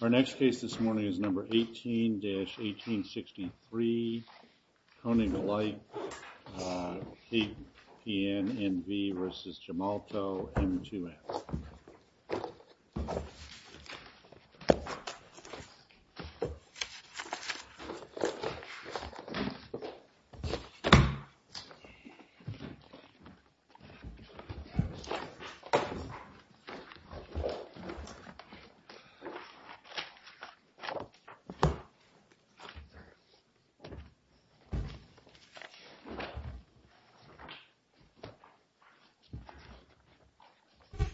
Our next case this morning is number 18-1863, Koninklijke KPN N v. v. Gemalto M2M. Our next case this morning is number 18-1863, Koninklijke KPN N v. v. Gemalto M2M. Our next case this morning is number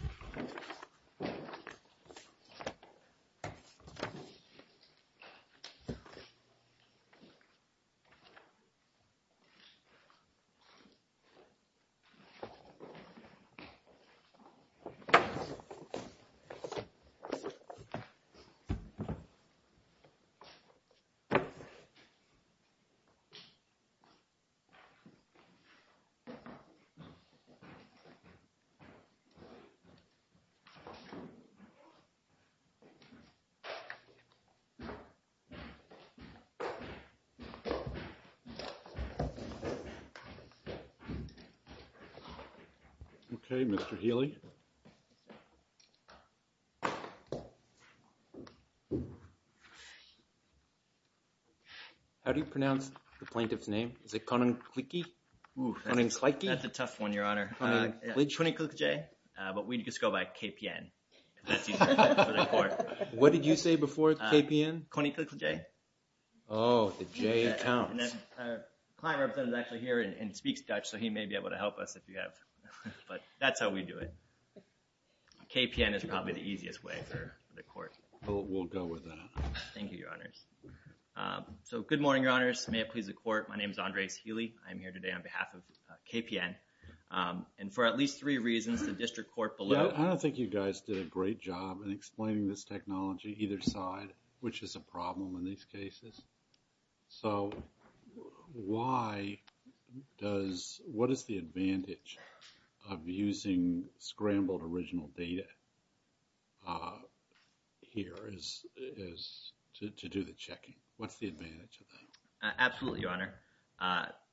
18-1863, Koninklijke KPN N v. v. Gemalto M2M. Okay, Mr. Healy. How do you pronounce the plaintiff's name? Is it Koninklijke? That's a tough one, your honor. Koninklijke? Koninklijke, but we just go by KPN. What did you say before KPN? Koninklijke. Oh, the J counts. Our client representative is actually here and speaks Dutch, so he may be able to help us if you have, but that's how we do it. KPN is probably the easiest way for the court. We'll go with that. Thank you, your honors. So, good morning, your honors. May it please the court. My name is Andres Healy. I'm here today on behalf of KPN. And for at least three reasons, the district court below... I don't think you guys did a great job in explaining this technology either side, which is a problem in these cases. So, what is the advantage of using scrambled original data here to do the checking? What's the advantage of that? Absolutely, your honor.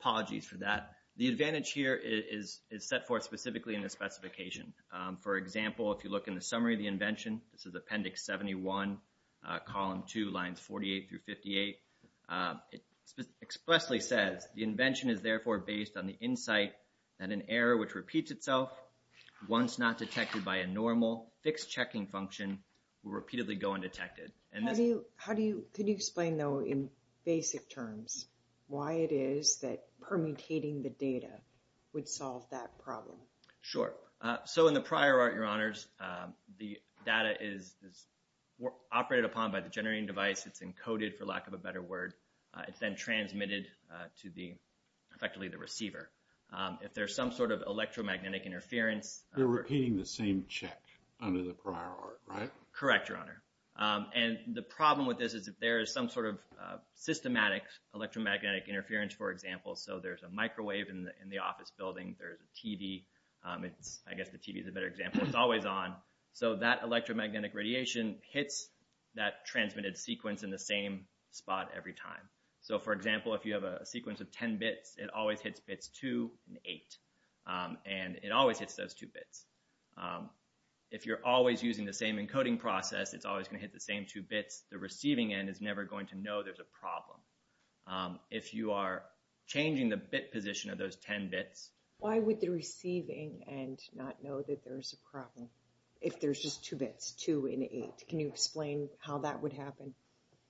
Apologies for that. The advantage here is set forth specifically in the specification. For example, if you look in the summary of the invention, this is Appendix 71, Column 2, Lines 48 through 58. It expressly says, the invention is therefore based on the insight that an error which repeats itself, once not detected by a normal fixed checking function, will repeatedly go undetected. Could you explain, though, in basic terms why it is that permutating the data would solve that problem? Sure. So, in the prior art, your honors, the data is operated upon by the generating device. It's encoded, for lack of a better word. It's then transmitted to effectively the receiver. If there's some sort of electromagnetic interference... You're repeating the same check under the prior art, right? Correct, your honor. And the problem with this is if there is some sort of systematic electromagnetic interference, for example. So, there's a microwave in the office building. There's a TV. I guess the TV is a better example. It's always on. So, that electromagnetic radiation hits that transmitted sequence in the same spot every time. So, for example, if you have a sequence of 10 bits, it always hits bits 2 and 8. And it always hits those two bits. If you're always using the same encoding process, it's always going to hit the same two bits. The receiving end is never going to know there's a problem. If you are changing the bit position of those 10 bits... Why would the receiving end not know that there's a problem if there's just two bits, 2 and 8? Can you explain how that would happen?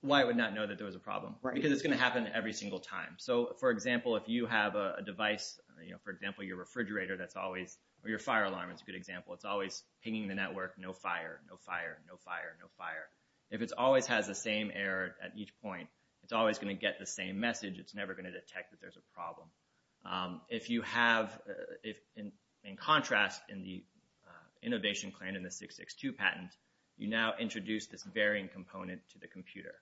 Why it would not know that there was a problem? Because it's going to happen every single time. So, for example, if you have a device, for example, your refrigerator that's always... Or your fire alarm is a good example. It's always pinging the network, no fire, no fire, no fire, no fire. If it always has the same error at each point, it's always going to get the same message. It's never going to detect that there's a problem. If you have... In contrast, in the innovation plan in the 662 patent, you now introduce this varying component to the computer.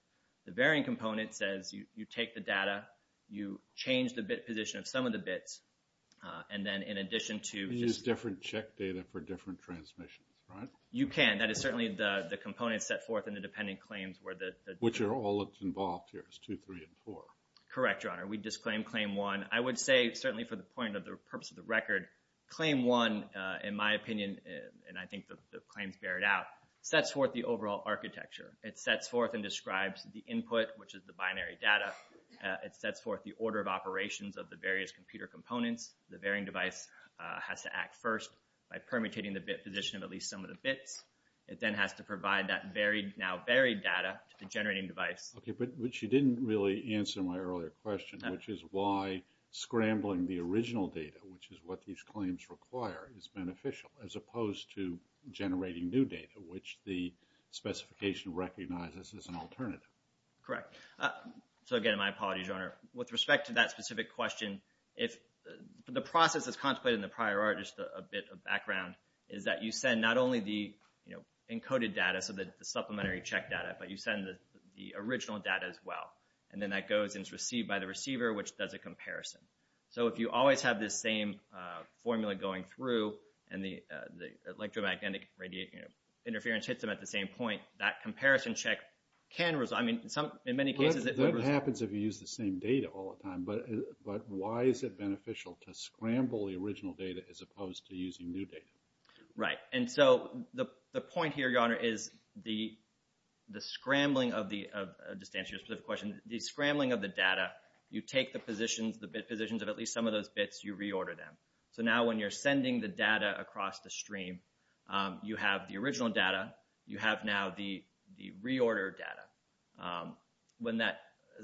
The varying component says you take the data, you change the bit position of some of the bits, and then in addition to... You use different check data for different transmissions, right? You can. And that is certainly the component set forth in the dependent claims where the... Which are all involved here, 2, 3, and 4. Correct, Your Honor. We disclaim Claim 1. I would say, certainly for the purpose of the record, Claim 1, in my opinion, and I think the claims bear it out, sets forth the overall architecture. It sets forth and describes the input, which is the binary data. It sets forth the order of operations of the various computer components. The varying device has to act first by permutating the bit position of at least some of the bits. It then has to provide that now buried data to the generating device. Okay, but you didn't really answer my earlier question, which is why scrambling the original data, which is what these claims require, is beneficial, as opposed to generating new data, which the specification recognizes as an alternative. So, again, my apologies, Your Honor. With respect to that specific question, if the process is contemplated in the prior art, just a bit of background, is that you send not only the encoded data, so the supplementary check data, but you send the original data as well. And then that goes and is received by the receiver, which does a comparison. So if you always have this same formula going through and the electromagnetic interference hits them at the same point, that comparison check can result. That happens if you use the same data all the time, but why is it beneficial to scramble the original data as opposed to using new data? Right, and so the point here, Your Honor, is the scrambling of the data, you take the bit positions of at least some of those bits, you reorder them. So now when you're sending the data across the stream, you have the original data, you have now the reordered data. When that,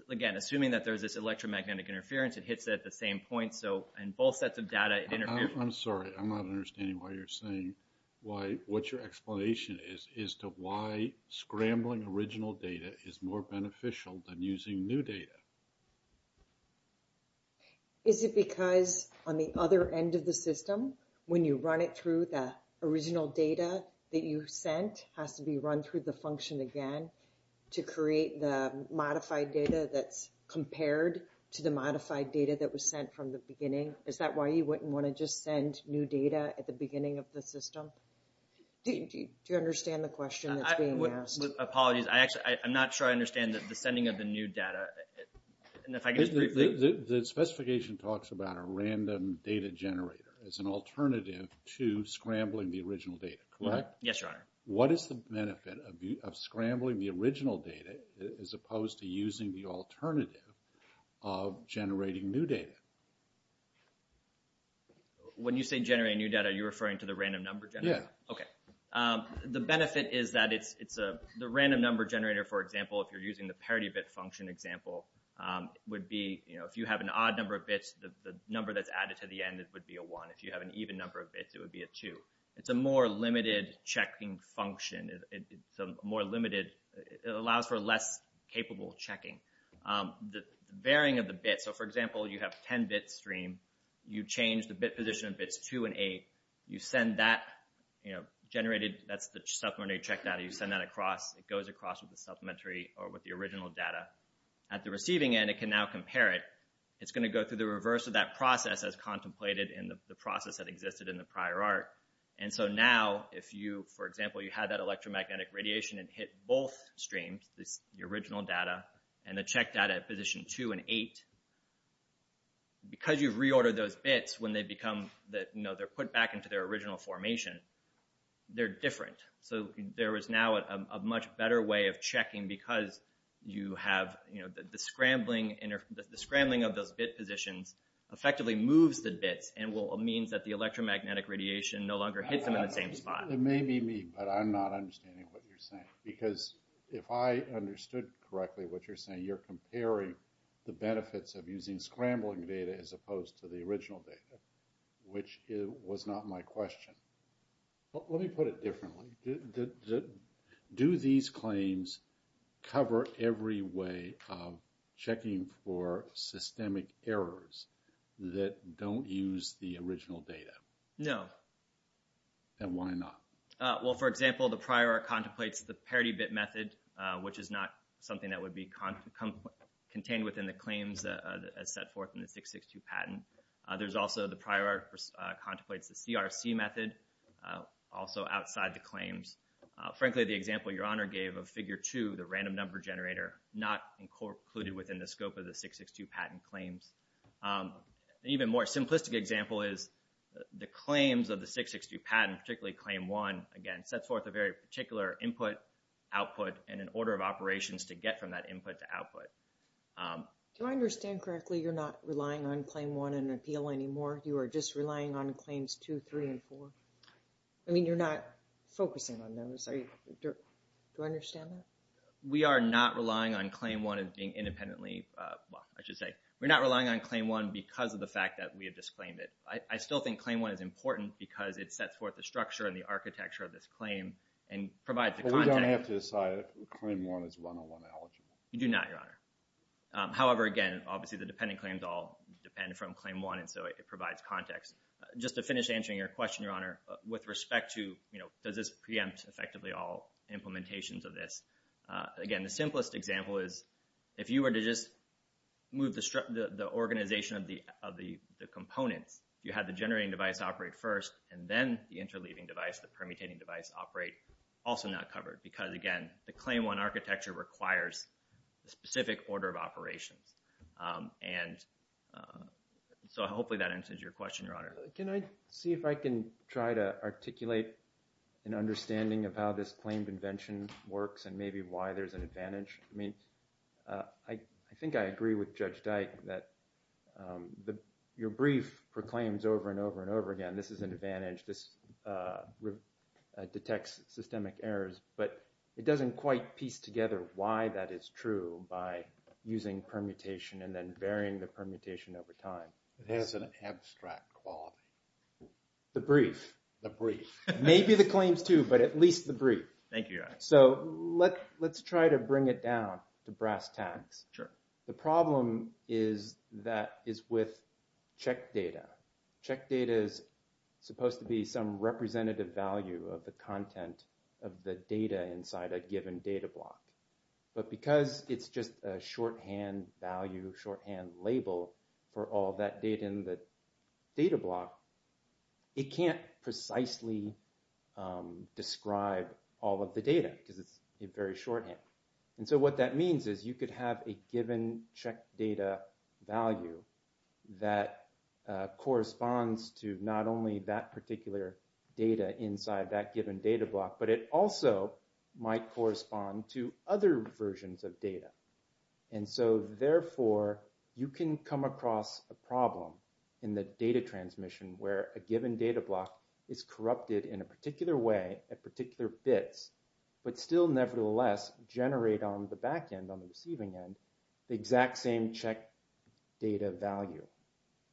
again, assuming that there's this electromagnetic interference, it hits it at the same point, so in both sets of data, it interferes. I'm sorry, I'm not understanding why you're saying, what your explanation is to why scrambling original data is more beneficial than using new data. Is it because on the other end of the system, when you run it through, the original data that you sent has to be run through the function again to create the modified data that's compared to the modified data that was sent from the beginning? Is that why you wouldn't want to just send new data at the beginning of the system? Do you understand the question that's being asked? Apologies, I'm not sure I understand the sending of the new data. The specification talks about a random data generator as an alternative to scrambling the original data, correct? Yes, Your Honor. What is the benefit of scrambling the original data as opposed to using the alternative of generating new data? When you say generate new data, are you referring to the random number generator? Yes. Okay. The benefit is that it's the random number generator, for example, if you're using the parity bit function example, if you have an odd number of bits, the number that's added to the end would be a 1. If you have an even number of bits, it would be a 2. It's a more limited checking function. It allows for less capable checking. The varying of the bits, so for example, you have 10-bit stream, you change the bit position of bits 2 and 8, you send that generated, that's the supplementary check data, you send that across, it goes across with the supplementary or with the original data. At the receiving end, it can now compare it. It's going to go through the reverse of that process as contemplated in the process that existed in the prior art. And so now, if you, for example, you had that electromagnetic radiation and hit both streams, the original data and the check data at position 2 and 8, because you've reordered those bits when they become, you know, they're put back into their original formation, they're different. So there is now a much better way of checking because you have, you know, the scrambling of those bit positions effectively moves the bits and will mean that the electromagnetic radiation no longer hits them in the same spot. It may be me, but I'm not understanding what you're saying. Because if I understood correctly what you're saying, you're comparing the benefits of using scrambling data as opposed to the original data, which was not my question. Let me put it differently. Do these claims cover every way of checking for systemic errors that don't use the original data? No. Then why not? Well, for example, the prior art contemplates the parity bit method, which is not something that would be contained within the claims as set forth in the 662 patent. There's also the prior art contemplates the CRC method, also outside the claims. Frankly, the example Your Honor gave of Figure 2, the random number generator, not included within the scope of the 662 patent claims. An even more simplistic example is the claims of the 662 patent, particularly Claim 1, again sets forth a very particular input, output, and an order of operations to get from that input to output. Do I understand correctly you're not relying on Claim 1 in an appeal anymore? You are just relying on Claims 2, 3, and 4? I mean, you're not focusing on those. Do I understand that? We are not relying on Claim 1 as being independently – well, I should say, we're not relying on Claim 1 because of the fact that we have disclaimed it. I still think Claim 1 is important because it sets forth the structure and the architecture of this claim and provides the content. But we don't have to decide if Claim 1 is 101 eligible. You do not, Your Honor. However, again, obviously the dependent claims all depend from Claim 1, and so it provides context. Just to finish answering your question, Your Honor, with respect to, you know, does this preempt effectively all implementations of this? Again, the simplest example is if you were to just move the organization of the components, you have the generating device operate first, and then the interleaving device, the permutating device, operate, also not covered because, again, the Claim 1 architecture requires a specific order of operations. And so hopefully that answers your question, Your Honor. Can I see if I can try to articulate an understanding of how this claim convention works and maybe why there's an advantage? I mean, I think I agree with Judge Dyke that your brief proclaims over and over and over again, this is an advantage, this detects systemic errors, but it doesn't quite piece together why that is true by using permutation and then varying the permutation over time. It has an abstract quality. The brief. The brief. Maybe the claims too, but at least the brief. Thank you, Your Honor. So let's try to bring it down to brass tacks. Sure. The problem is that is with check data. Check data is supposed to be some representative value of the content of the data inside a given data block. But because it's just a shorthand value, shorthand label for all that data in the data block, it can't precisely describe all of the data because it's very shorthand. And so what that means is you could have a given check data value that corresponds to not only that particular data inside that given data block, but it also might correspond to other versions of data. And so, therefore, you can come across a problem in the data transmission where a given data block is corrupted in a particular way at particular bits, but still nevertheless generate on the back end, on the receiving end, the exact same check data value.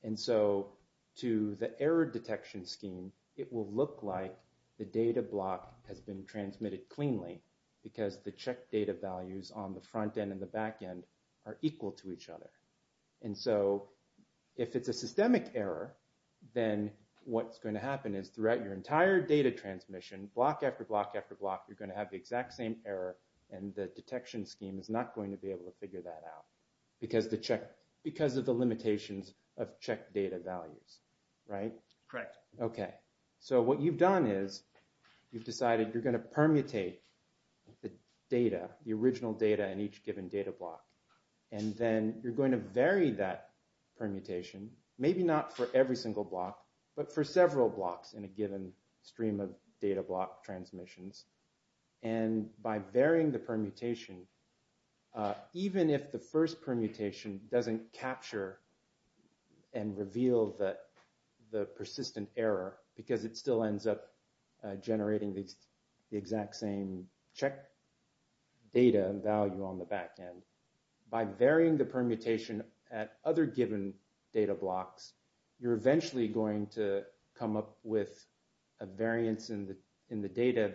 And so to the error detection scheme, it will look like the data block has been transmitted cleanly because the check data values on the front end and the back end are equal to each other. And so if it's a systemic error, then what's going to happen is throughout your entire data transmission, block after block after block, you're going to have the exact same error. And the detection scheme is not going to be able to figure that out because of the limitations of check data values. Right? Correct. Okay. So what you've done is you've decided you're going to permutate the data, the original data in each given data block. And then you're going to vary that permutation, maybe not for every single block, but for several blocks in a given stream of data block transmissions. And by varying the permutation, even if the first permutation doesn't capture and reveal the persistent error, because it still ends up generating the exact same check data value on the back end, by varying the permutation at other given data blocks, you're eventually going to come up with a variance in the data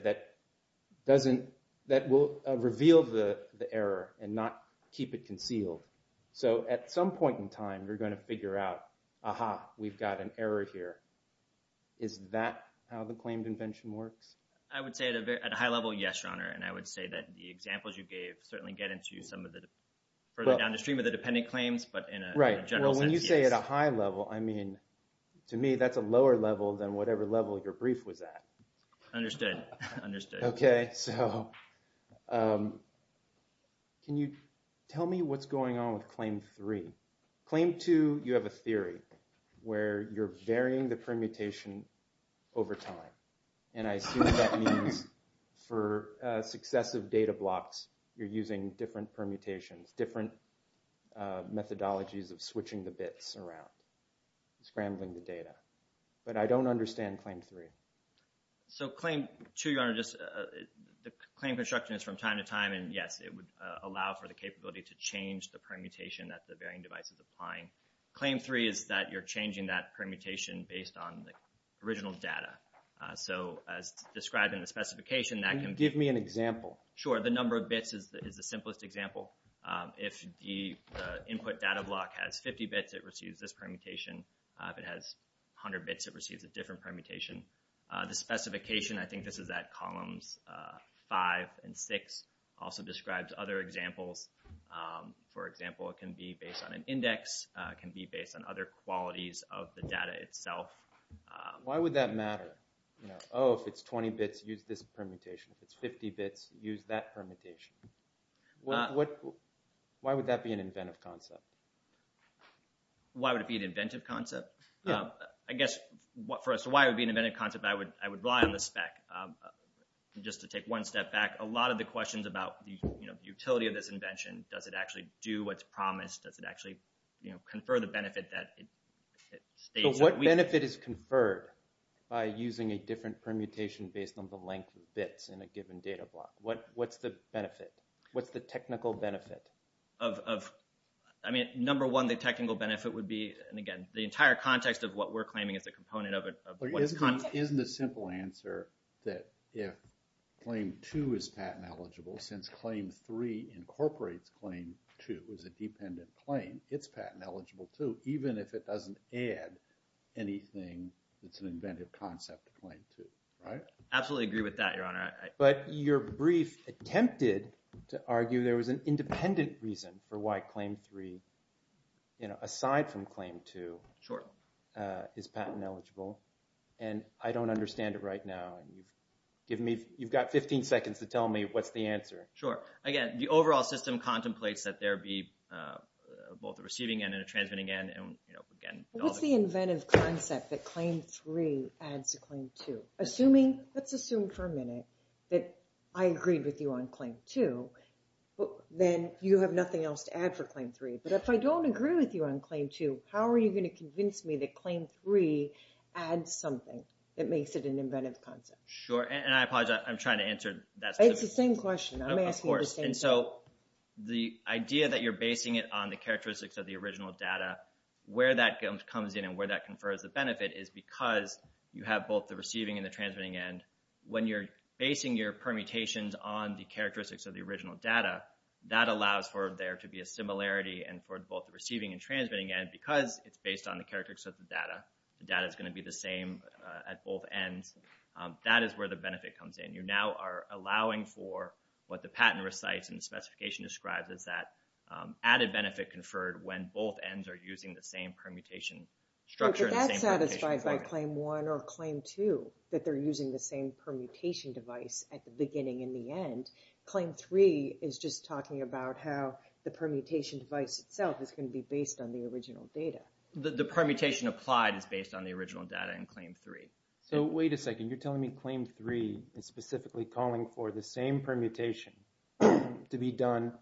that will reveal the error and not keep it concealed. So at some point in time, you're going to figure out, aha, we've got an error here. Is that how the claimed invention works? I would say at a high level, yes, Your Honor. And I would say that the examples you gave certainly get into some of the further downstream of the dependent claims, but in a general sense, yes. Right. Well, when you say at a high level, I mean, to me, that's a lower level than whatever level your brief was at. Understood. Understood. Okay. So can you tell me what's going on with Claim 3? Claim 2, you have a theory where you're varying the permutation over time. And I assume that means for successive data blocks, you're using different permutations, different methodologies of switching the bits around, scrambling the data. But I don't understand Claim 3. So Claim 2, Your Honor, the claim construction is from time to time. And, yes, it would allow for the capability to change the permutation that the varying device is applying. Claim 3 is that you're changing that permutation based on the original data. So as described in the specification, that can be… Can you give me an example? Sure. The number of bits is the simplest example. If the input data block has 50 bits, it receives this permutation. If it has 100 bits, it receives a different permutation. The specification, I think this is at columns 5 and 6, also describes other examples. For example, it can be based on an index. It can be based on other qualities of the data itself. Why would that matter? Oh, if it's 20 bits, use this permutation. If it's 50 bits, use that permutation. Why would that be an inventive concept? Why would it be an inventive concept? I guess, for us, why it would be an inventive concept, I would rely on the spec. Just to take one step back, a lot of the questions about the utility of this invention, does it actually do what's promised? Does it actually confer the benefit that it states that we… But what benefit is conferred by using a different permutation based on the length of bits in a given data block? What's the benefit? What's the technical benefit? I mean, number one, the technical benefit would be, and again, the entire context of what we're claiming is a component of it. Isn't the simple answer that if Claim 2 is patent eligible, since Claim 3 incorporates Claim 2 as a dependent claim, it's patent eligible too, even if it doesn't add anything that's an inventive concept to Claim 2, right? Absolutely agree with that, Your Honor. But your brief attempted to argue there was an independent reason for why Claim 3, aside from Claim 2, is patent eligible. And I don't understand it right now. You've got 15 seconds to tell me what's the answer. Sure. Again, the overall system contemplates that there be both a receiving end and a transmitting end. What's the inventive concept that Claim 3 adds to Claim 2? Assuming, let's assume for a minute that I agreed with you on Claim 2, then you have nothing else to add for Claim 3. But if I don't agree with you on Claim 2, how are you going to convince me that Claim 3 adds something that makes it an inventive concept? Sure, and I apologize. I'm trying to answer that. It's the same question. I'm asking the same thing. When you're basing your permutations on the characteristics of the original data, that allows for there to be a similarity and for both the receiving and transmitting end because it's based on the characteristics of the data. The data is going to be the same at both ends. That is where the benefit comes in. You now are allowing for what the patent recites and the specification describes is that added benefit conferred when both ends are using the same permutation structure. If that's satisfied by Claim 1 or Claim 2, that they're using the same permutation device at the beginning and the end, Claim 3 is just talking about how the permutation device itself is going to be based on the original data. The permutation applied is based on the original data in Claim 3. So wait a second. You're telling me Claim 3 is specifically calling for the same permutation to be done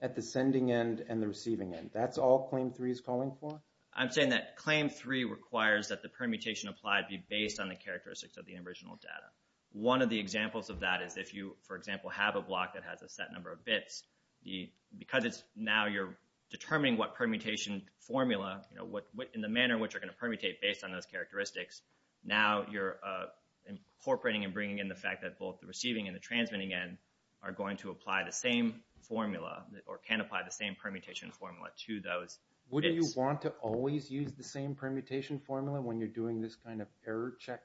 at the sending end and the receiving end. That's all Claim 3 is calling for? I'm saying that Claim 3 requires that the permutation applied be based on the characteristics of the original data. One of the examples of that is if you, for example, have a block that has a set number of bits, because now you're determining what permutation formula in the manner in which you're going to permutate based on those characteristics, now you're incorporating and bringing in the fact that both the receiving and the transmitting end are going to apply the same formula or can apply the same permutation formula to those bits. Would you want to always use the same permutation formula when you're doing this kind of error check?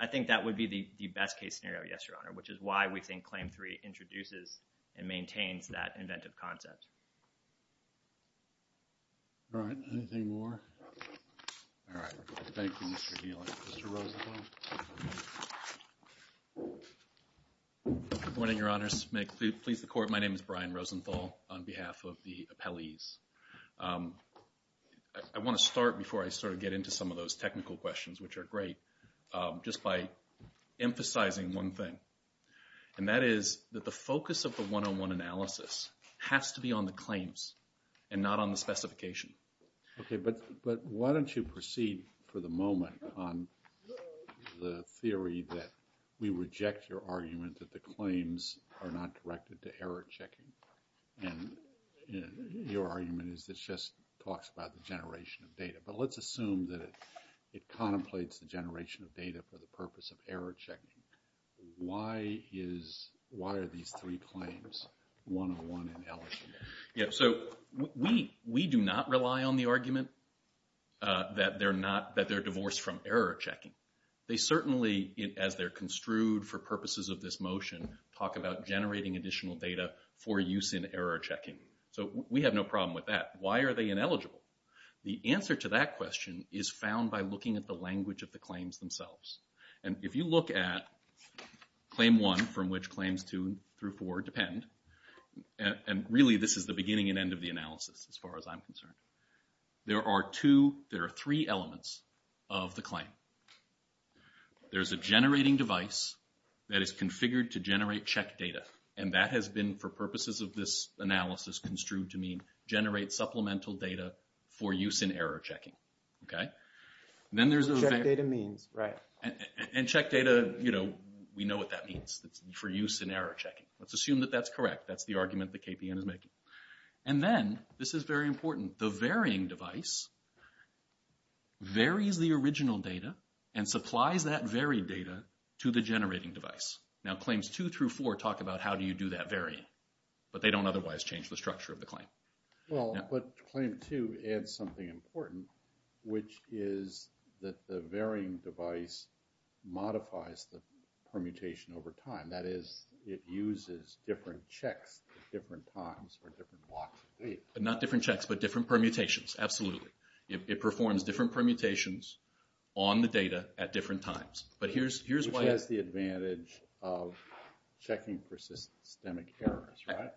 I think that would be the best case scenario, yes, Your Honor, which is why we think Claim 3 introduces and maintains that inventive concept. All right. Anything more? All right. Thank you, Mr. Healy. Mr. Rosenthal? Good morning, Your Honors. May it please the Court, my name is Brian Rosenthal on behalf of the appellees. I want to start before I sort of get into some of those technical questions, which are great, just by emphasizing one thing, and that is that the focus of the 101 analysis has to be on the claims and not on the specification. Okay, but why don't you proceed for the moment on the theory that we reject your argument that the claims are not directed to error checking, and your argument is that it just talks about the generation of data. But let's assume that it contemplates the generation of data for the purpose of error checking. Why are these three claims 101 and eligible? Yeah, so we do not rely on the argument that they're divorced from error checking. They certainly, as they're construed for purposes of this motion, talk about generating additional data for use in error checking. So we have no problem with that. Why are they ineligible? The answer to that question is found by looking at the language of the claims themselves. And if you look at Claim 1, from which Claims 2 through 4 depend, and really this is the beginning and end of the analysis as far as I'm concerned, there are three elements of the claim. There's a generating device that is configured to generate check data, and that has been, for purposes of this analysis, construed to mean generate supplemental data for use in error checking. Check data means, right. And check data, you know, we know what that means. It's for use in error checking. Let's assume that that's correct. That's the argument that KPN is making. And then, this is very important, the varying device varies the original data and supplies that varied data to the generating device. Now Claims 2 through 4 talk about how do you do that varying, but they don't otherwise change the structure of the claim. Well, but Claim 2 adds something important, which is that the varying device modifies the permutation over time. That is, it uses different checks at different times for different blocks of data. Not different checks, but different permutations, absolutely. It performs different permutations on the data at different times. Which has the advantage of checking persistent systemic errors, right?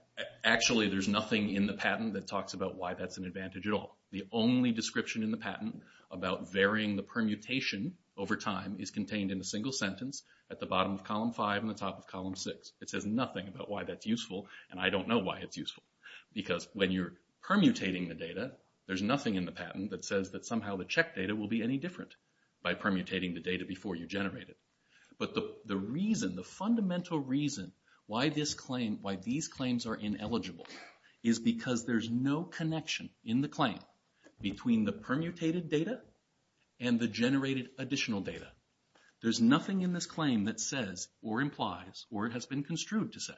Actually, there's nothing in the patent that talks about why that's an advantage at all. The only description in the patent about varying the permutation over time is contained in a single sentence, at the bottom of Column 5 and the top of Column 6. It says nothing about why that's useful, and I don't know why it's useful. Because when you're permutating the data, there's nothing in the patent that says that somehow the check data will be any different by permutating the data before you generate it. But the fundamental reason why these claims are ineligible is because there's no connection in the claim between the permutated data and the generated additional data. There's nothing in this claim that says, or implies, or has been construed to say,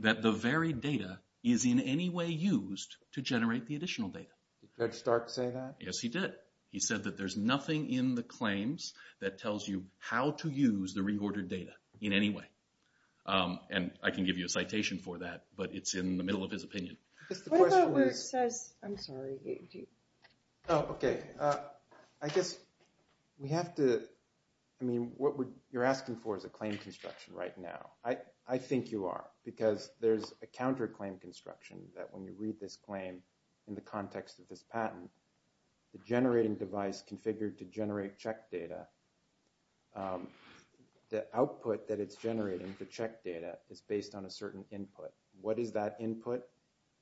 that the varied data is in any way used to generate the additional data. Did Fred Stark say that? Yes, he did. He said that there's nothing in the claims that tells you how to use the reordered data in any way. And I can give you a citation for that, but it's in the middle of his opinion. The question is... I'm sorry. Oh, okay. I guess we have to... I mean, what you're asking for is a claim construction right now. I think you are, because there's a counter-claim construction that when you read this claim in the context of this patent, the generating device configured to generate check data, the output that it's generating, the check data, is based on a certain input. What is that input?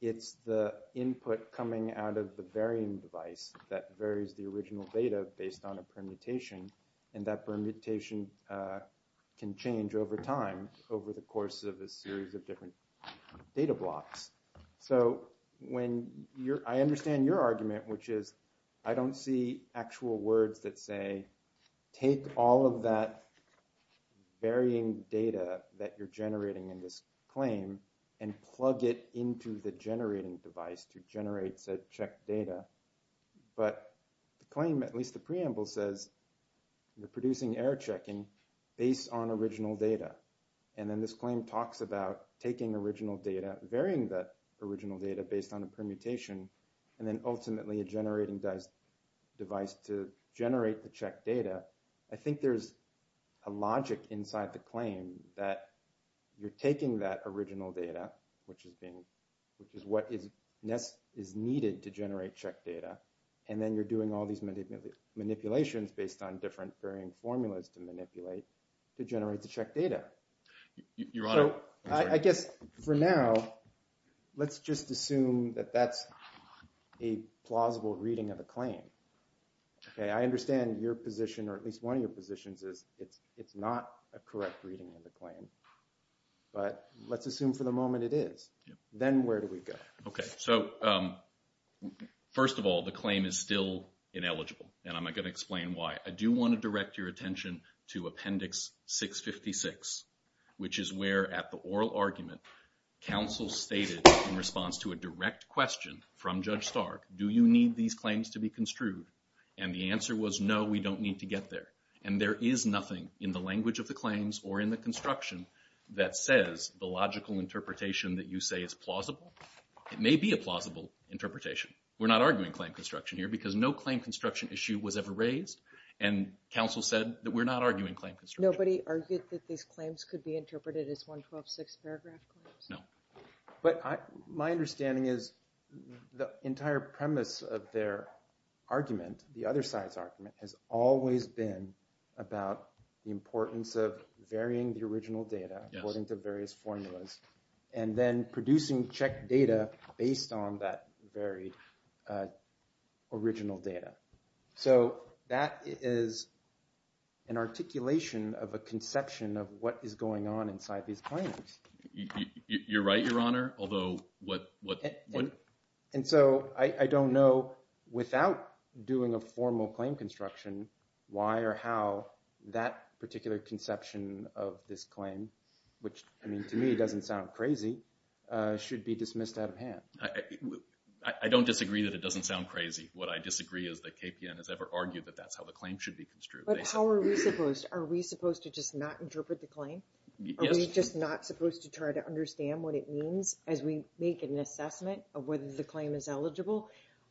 It's the input coming out of the varying device that varies the original data based on a permutation, and that permutation can change over time, over the course of a series of different data blocks. So I understand your argument, which is I don't see actual words that say, take all of that varying data that you're generating in this claim and plug it into the generating device to generate said check data. But the claim, at least the preamble, says you're producing error checking based on original data. And then this claim talks about taking original data, varying that original data based on a permutation, and then ultimately a generating device to generate the check data. I think there's a logic inside the claim that you're taking that original data, which is what is needed to generate check data, and then you're doing all these manipulations based on different varying formulas to manipulate to generate the check data. So I guess for now, let's just assume that that's a plausible reading of the claim. I understand your position, or at least one of your positions, is it's not a correct reading of the claim, but let's assume for the moment it is. Then where do we go? Okay, so first of all, the claim is still ineligible, and I'm going to explain why. I do want to direct your attention to Appendix 656, which is where at the oral argument counsel stated in response to a direct question from Judge Stark, do you need these claims to be construed? And the answer was no, we don't need to get there. And there is nothing in the language of the claims or in the construction that says the logical interpretation that you say is plausible. It may be a plausible interpretation. We're not arguing claim construction here because no claim construction issue was ever raised, and counsel said that we're not arguing claim construction. Nobody argued that these claims could be interpreted as 112-6 paragraph claims? No. But my understanding is the entire premise of their argument, the other side's argument, has always been about the importance of varying the original data according to various formulas and then producing checked data based on that very original data. So that is an articulation of a conception of what is going on inside these claims. You're right, Your Honor. And so I don't know, without doing a formal claim construction, why or how that particular conception of this claim, which to me doesn't sound crazy, should be dismissed out of hand. I don't disagree that it doesn't sound crazy. What I disagree is that KPN has ever argued that that's how the claim should be construed. But how are we supposed? Are we supposed to just not interpret the claim? Are we just not supposed to try to understand what it means as we make an assessment of whether the claim is eligible?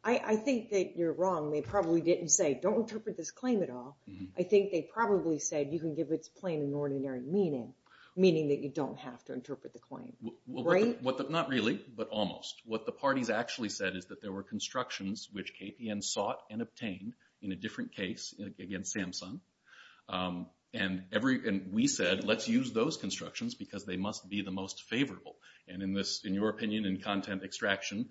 I think that you're wrong. They probably didn't say, don't interpret this claim at all. I think they probably said you can give its plain and ordinary meaning, meaning that you don't have to interpret the claim. Not really, but almost. What the parties actually said is that there were constructions which KPN sought and obtained in a different case against Samsung. And we said, let's use those constructions because they must be the most favorable. And in your opinion in content extraction,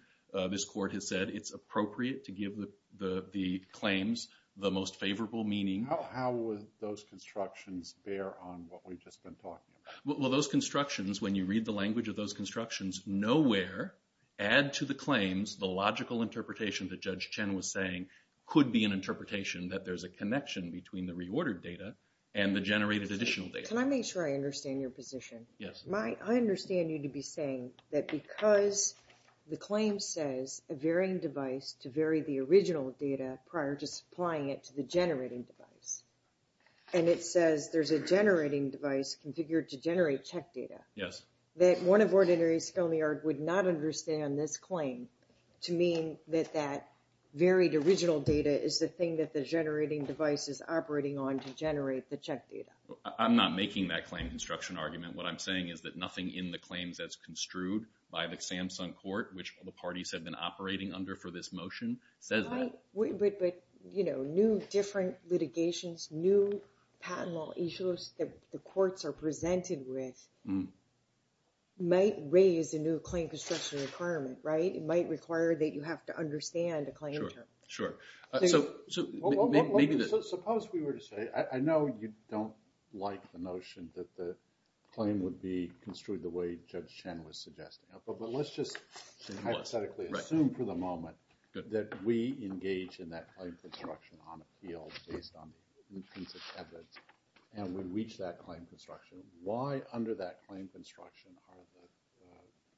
this court has said it's appropriate to give the claims the most favorable meaning. How would those constructions bear on what we've just been talking about? Well, those constructions, when you read the language of those constructions, nowhere add to the claims the logical interpretation that Judge Chen was saying could be an interpretation that there's a connection between the reordered data and the generated additional data. Can I make sure I understand your position? Yes. I understand you to be saying that because the claim says a varying device to vary the original data prior to supplying it to the generating device, and it says there's a generating device configured to generate check data, that one of ordinary sconyard would not understand this claim to mean that that varied original data is the thing that the generating device is operating on to generate the check data. I'm not making that claim construction argument. What I'm saying is that nothing in the claims that's construed by the Samsung court, which the parties have been operating under for this motion, says that. But, you know, new different litigations, new patent law issues that the courts are presented with might raise a new claim construction requirement, right? It might require that you have to understand a claim term. Sure. Suppose we were to say, I know you don't like the notion that the claim would be construed the way Judge Chen was suggesting, but let's just hypothetically assume for the moment that we engage in that claim construction on appeal based on the evidence, and we reach that claim construction. Why under that claim construction are the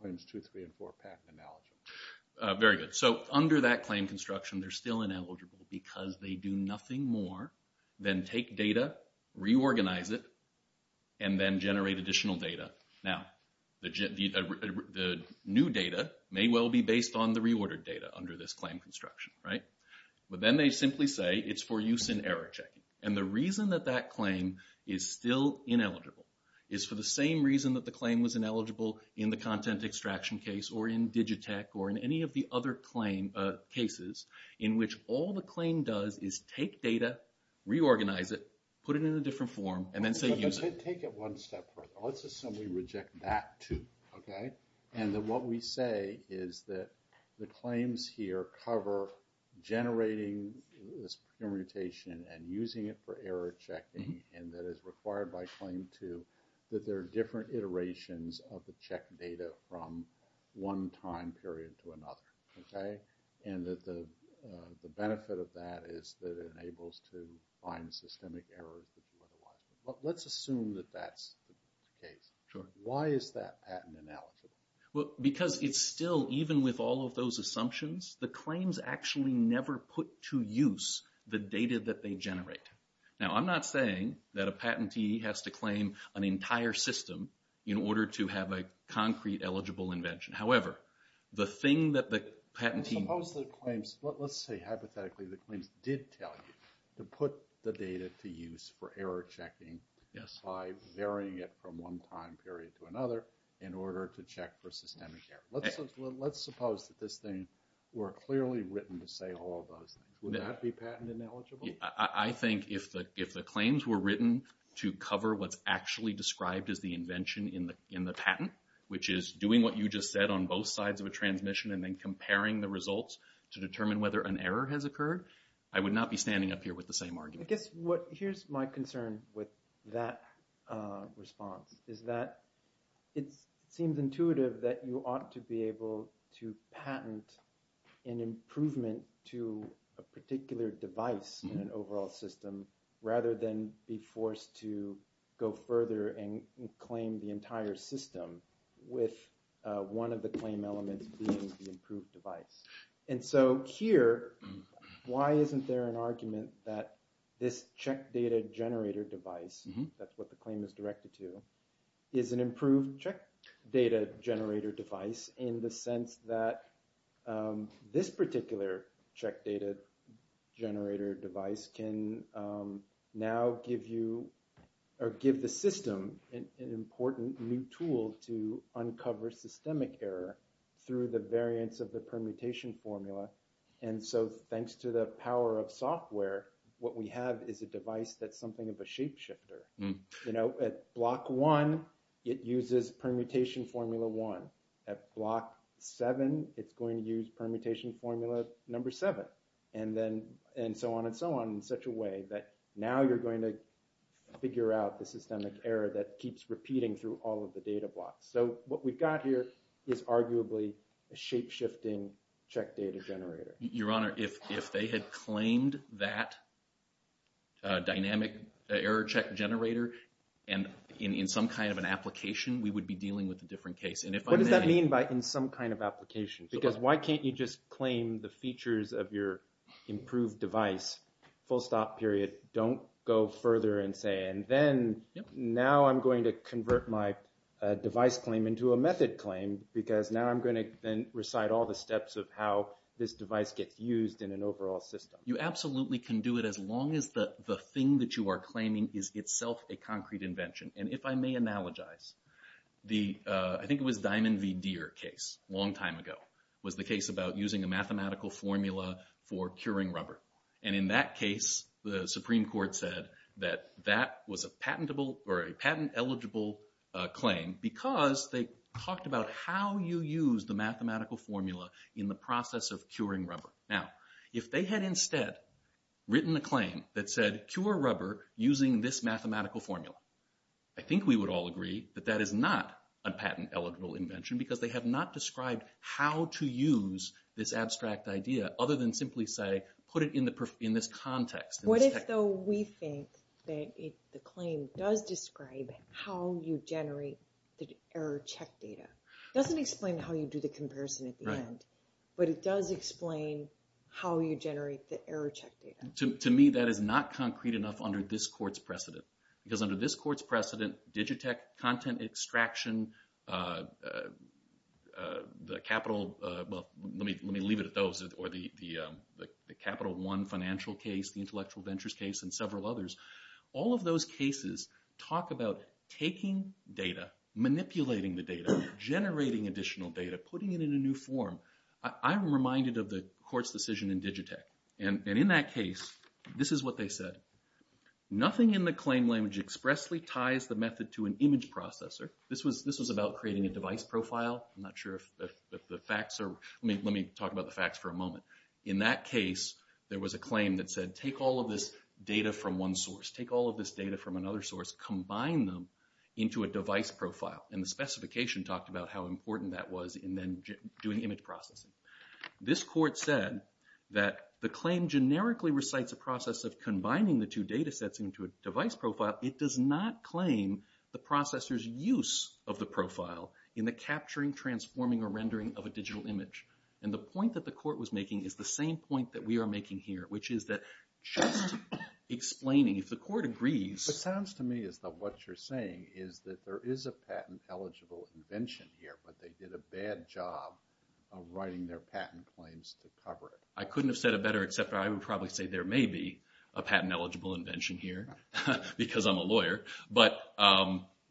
claims 2, 3, and 4 patent ineligible? Very good. So under that claim construction, they're still ineligible because they do nothing more than take data, reorganize it, and then generate additional data. Now, the new data may well be based on the reordered data under this claim construction, right? But then they simply say it's for use in error checking. And the reason that that claim is still ineligible is for the same reason that the claim was ineligible in the content extraction case or in Digitech or in any of the other cases, in which all the claim does is take data, reorganize it, put it in a different form, and then say use it. Take it one step further. Let's assume we reject that 2, okay? And that what we say is that the claims here cover generating this permutation and using it for error checking, and that it's required by claim 2 that there are different iterations of the checked data from one time period to another, okay? And that the benefit of that is that it enables to find systemic errors that you wouldn't want. But let's assume that that's the case. Why is that patent ineligible? Well, because it's still, even with all of those assumptions, the claims actually never put to use the data that they generate. Now, I'm not saying that a patentee has to claim an entire system in order to have a concrete eligible invention. However, the thing that the patentee... Let's say, hypothetically, the claims did tell you to put the data to use for error checking by varying it from one time period to another in order to check for systemic error. Let's suppose that this thing were clearly written to say all of those things. Would that be patent ineligible? I think if the claims were written to cover what's actually described as the invention in the patent, which is doing what you just said on both sides of a transmission and then comparing the results to determine whether an error has occurred, I would not be standing up here with the same argument. Here's my concern with that response. It seems intuitive that you ought to be able to patent an improvement to a particular device in an overall system rather than be forced to go further and claim the entire system with one of the claim elements being the improved device. And so here, why isn't there an argument that this check data generator device, that's what the claim is directed to, is an improved check data generator device in the sense that this particular check data generator device can now give you or give the system an important new tool to uncover systemic error through the variance of the permutation formula. And so thanks to the power of software, what we have is a device that's something of a shapeshifter. At block one, it uses permutation formula one. At block seven, it's going to use permutation formula number seven. And so on and so on in such a way that now you're going to figure out the systemic error that keeps repeating through all of the data blocks. So what we've got here is arguably a shapeshifting check data generator. Your Honor, if they had claimed that dynamic error check generator in some kind of an application, we would be dealing with a different case. What does that mean by in some kind of application? Because why can't you just claim the features of your improved device, full stop period, don't go further and say, and then now I'm going to convert my device claim into a method claim because now I'm going to then recite all the steps of how this device gets used in an overall system. You absolutely can do it as long as the thing that you are claiming is itself a concrete invention. And if I may analogize, I think it was the Diamond v. Deere case a long time ago, was the case about using a mathematical formula for curing rubber. And in that case, the Supreme Court said that that was a patent eligible claim because they talked about how you use the mathematical formula in the process of curing rubber. Now, if they had instead written a claim that said, cure rubber using this mathematical formula, I think we would all agree that that is not a patent eligible invention because they have not described how to use this abstract idea other than simply say, put it in this context. What if, though, we think that the claim does describe how you generate the error check data? It doesn't explain how you do the comparison at the end, but it does explain how you generate the error check data. To me, that is not concrete enough under this court's precedent. Because under this court's precedent, Digitech content extraction, the Capital, well, let me leave it at those, or the Capital One financial case, the intellectual ventures case, and several others, all of those cases talk about taking data, manipulating the data, generating additional data, putting it in a new form. I'm reminded of the court's decision in Digitech. And in that case, this is what they said. Nothing in the claim language expressly ties the method to an image processor. This was about creating a device profile. I'm not sure if the facts are, let me talk about the facts for a moment. In that case, there was a claim that said, take all of this data from one source, take all of this data from another source, combine them into a device profile. And the specification talked about how important that was in then doing image processing. This court said that the claim generically recites a process of combining the two data sets into a device profile. It does not claim the processor's use of the profile in the capturing, transforming, or rendering of a digital image. And the point that the court was making is the same point that we are making here, which is that just explaining, if the court agrees. It sounds to me as though what you're saying is that there is a patent-eligible invention here, but they did a bad job of writing their patent claims to cover it. I couldn't have said it better, except that I would probably say there may be a patent-eligible invention here, because I'm a lawyer.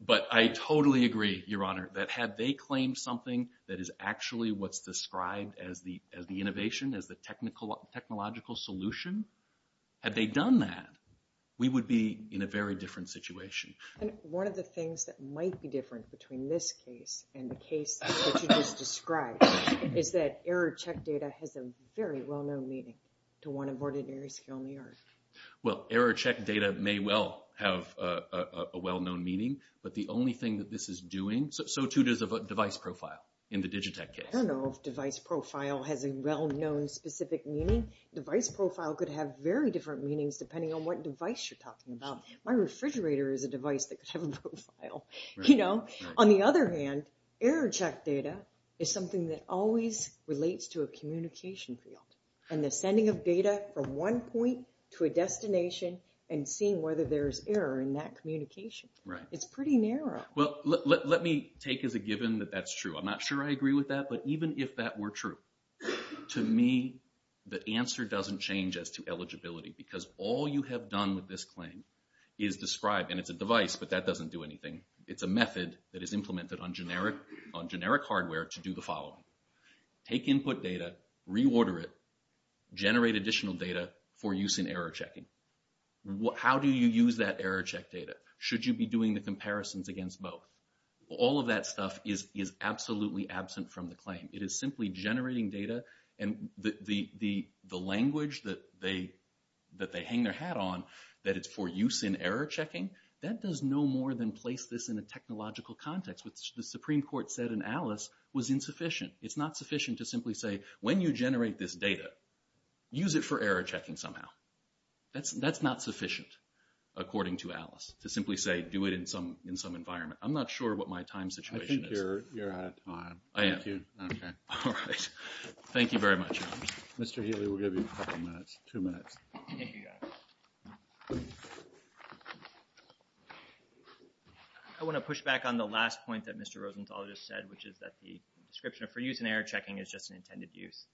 But I totally agree, Your Honor, that had they claimed something that is actually what's described as the innovation, as the technological solution, had they done that, we would be in a very different situation. And one of the things that might be different between this case and the case that you just described is that error-checked data has a very well-known meaning to one of ordinary skill in the art. Well, error-checked data may well have a well-known meaning, but the only thing that this is doing, so too does device profile in the Digitech case. I don't know if device profile has a well-known specific meaning. Device profile could have very different meanings depending on what device you're talking about. My refrigerator is a device that could have a profile. On the other hand, error-checked data is something that always relates to a communication field, and the sending of data from one point to a destination and seeing whether there is error in that communication. It's pretty narrow. Well, let me take as a given that that's true. I'm not sure I agree with that, but even if that were true, to me, the answer doesn't change as to eligibility, because all you have done with this claim is describe, and it's a device, but that doesn't do anything. It's a method that is implemented on generic hardware to do the following. Take input data, reorder it, generate additional data for use in error-checking. How do you use that error-checked data? Should you be doing the comparisons against both? All of that stuff is absolutely absent from the claim. It is simply generating data, and the language that they hang their hat on, that it's for use in error-checking, that does no more than place this in a technological context, which the Supreme Court said in Alice was insufficient. It's not sufficient to simply say, when you generate this data, use it for error-checking somehow. That's not sufficient, according to Alice, to simply say, do it in some environment. I'm not sure what my time situation is. You're out of time. I am. Okay. All right. Thank you very much. Mr. Healy, we'll give you a couple minutes, two minutes. I want to push back on the last point that Mr. Rosenthal just said, which is that the description for use in error-checking is just an intended use.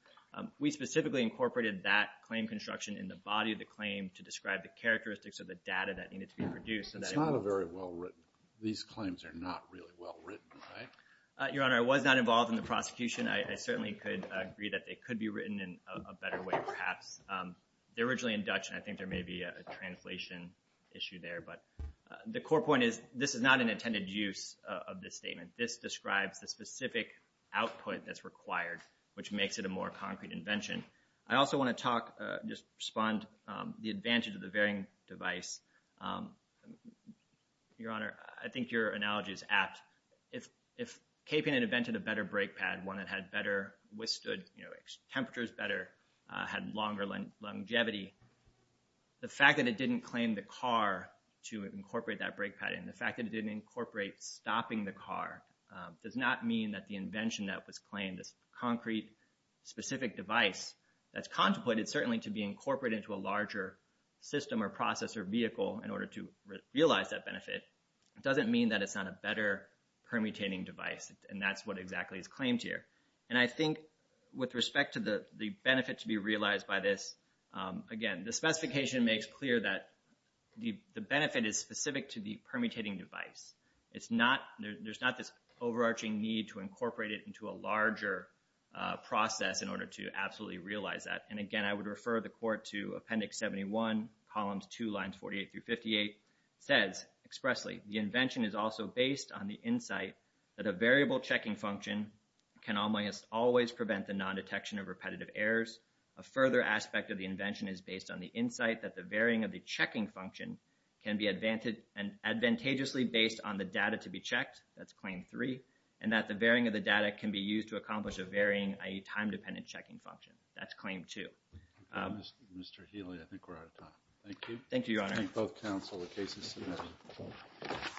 We specifically incorporated that claim construction in the body of the claim to describe the characteristics of the data that needed to be produced. It's not very well written. These claims are not really well written, right? Your Honor, I was not involved in the prosecution. I certainly could agree that they could be written in a better way, perhaps. They're originally in Dutch, and I think there may be a translation issue there. But the core point is this is not an intended use of this statement. This describes the specific output that's required, which makes it a more concrete invention. I also want to talk, just respond, the advantage of the varying device. Your Honor, I think your analogy is apt. If KPN had invented a better brake pad, one that had better withstood, you know, temperatures better, had longer longevity, the fact that it didn't claim the car to incorporate that brake pad and the fact that it didn't incorporate stopping the car does not mean that the invention that was claimed, this concrete specific device that's contemplated, certainly to be incorporated into a larger system or process or vehicle in order to realize that benefit, doesn't mean that it's not a better permutating device, and that's what exactly is claimed here. And I think with respect to the benefit to be realized by this, again, the specification makes clear that the benefit is specific to the permutating device. There's not this overarching need to incorporate it into a larger process in order to absolutely realize that. And again, I would refer the Court to Appendix 71, Columns 2, Lines 48 through 58. It says expressly, the invention is also based on the insight that a variable checking function can almost always prevent the non-detection of repetitive errors. A further aspect of the invention is based on the insight that the varying of the checking function can be advantageously based on the data to be checked. That's Claim 3. And that the varying of the data can be used to accomplish a varying, i.e., time-dependent checking function. That's Claim 2. Mr. Healy, I think we're out of time. Thank you. Thank you, Your Honor.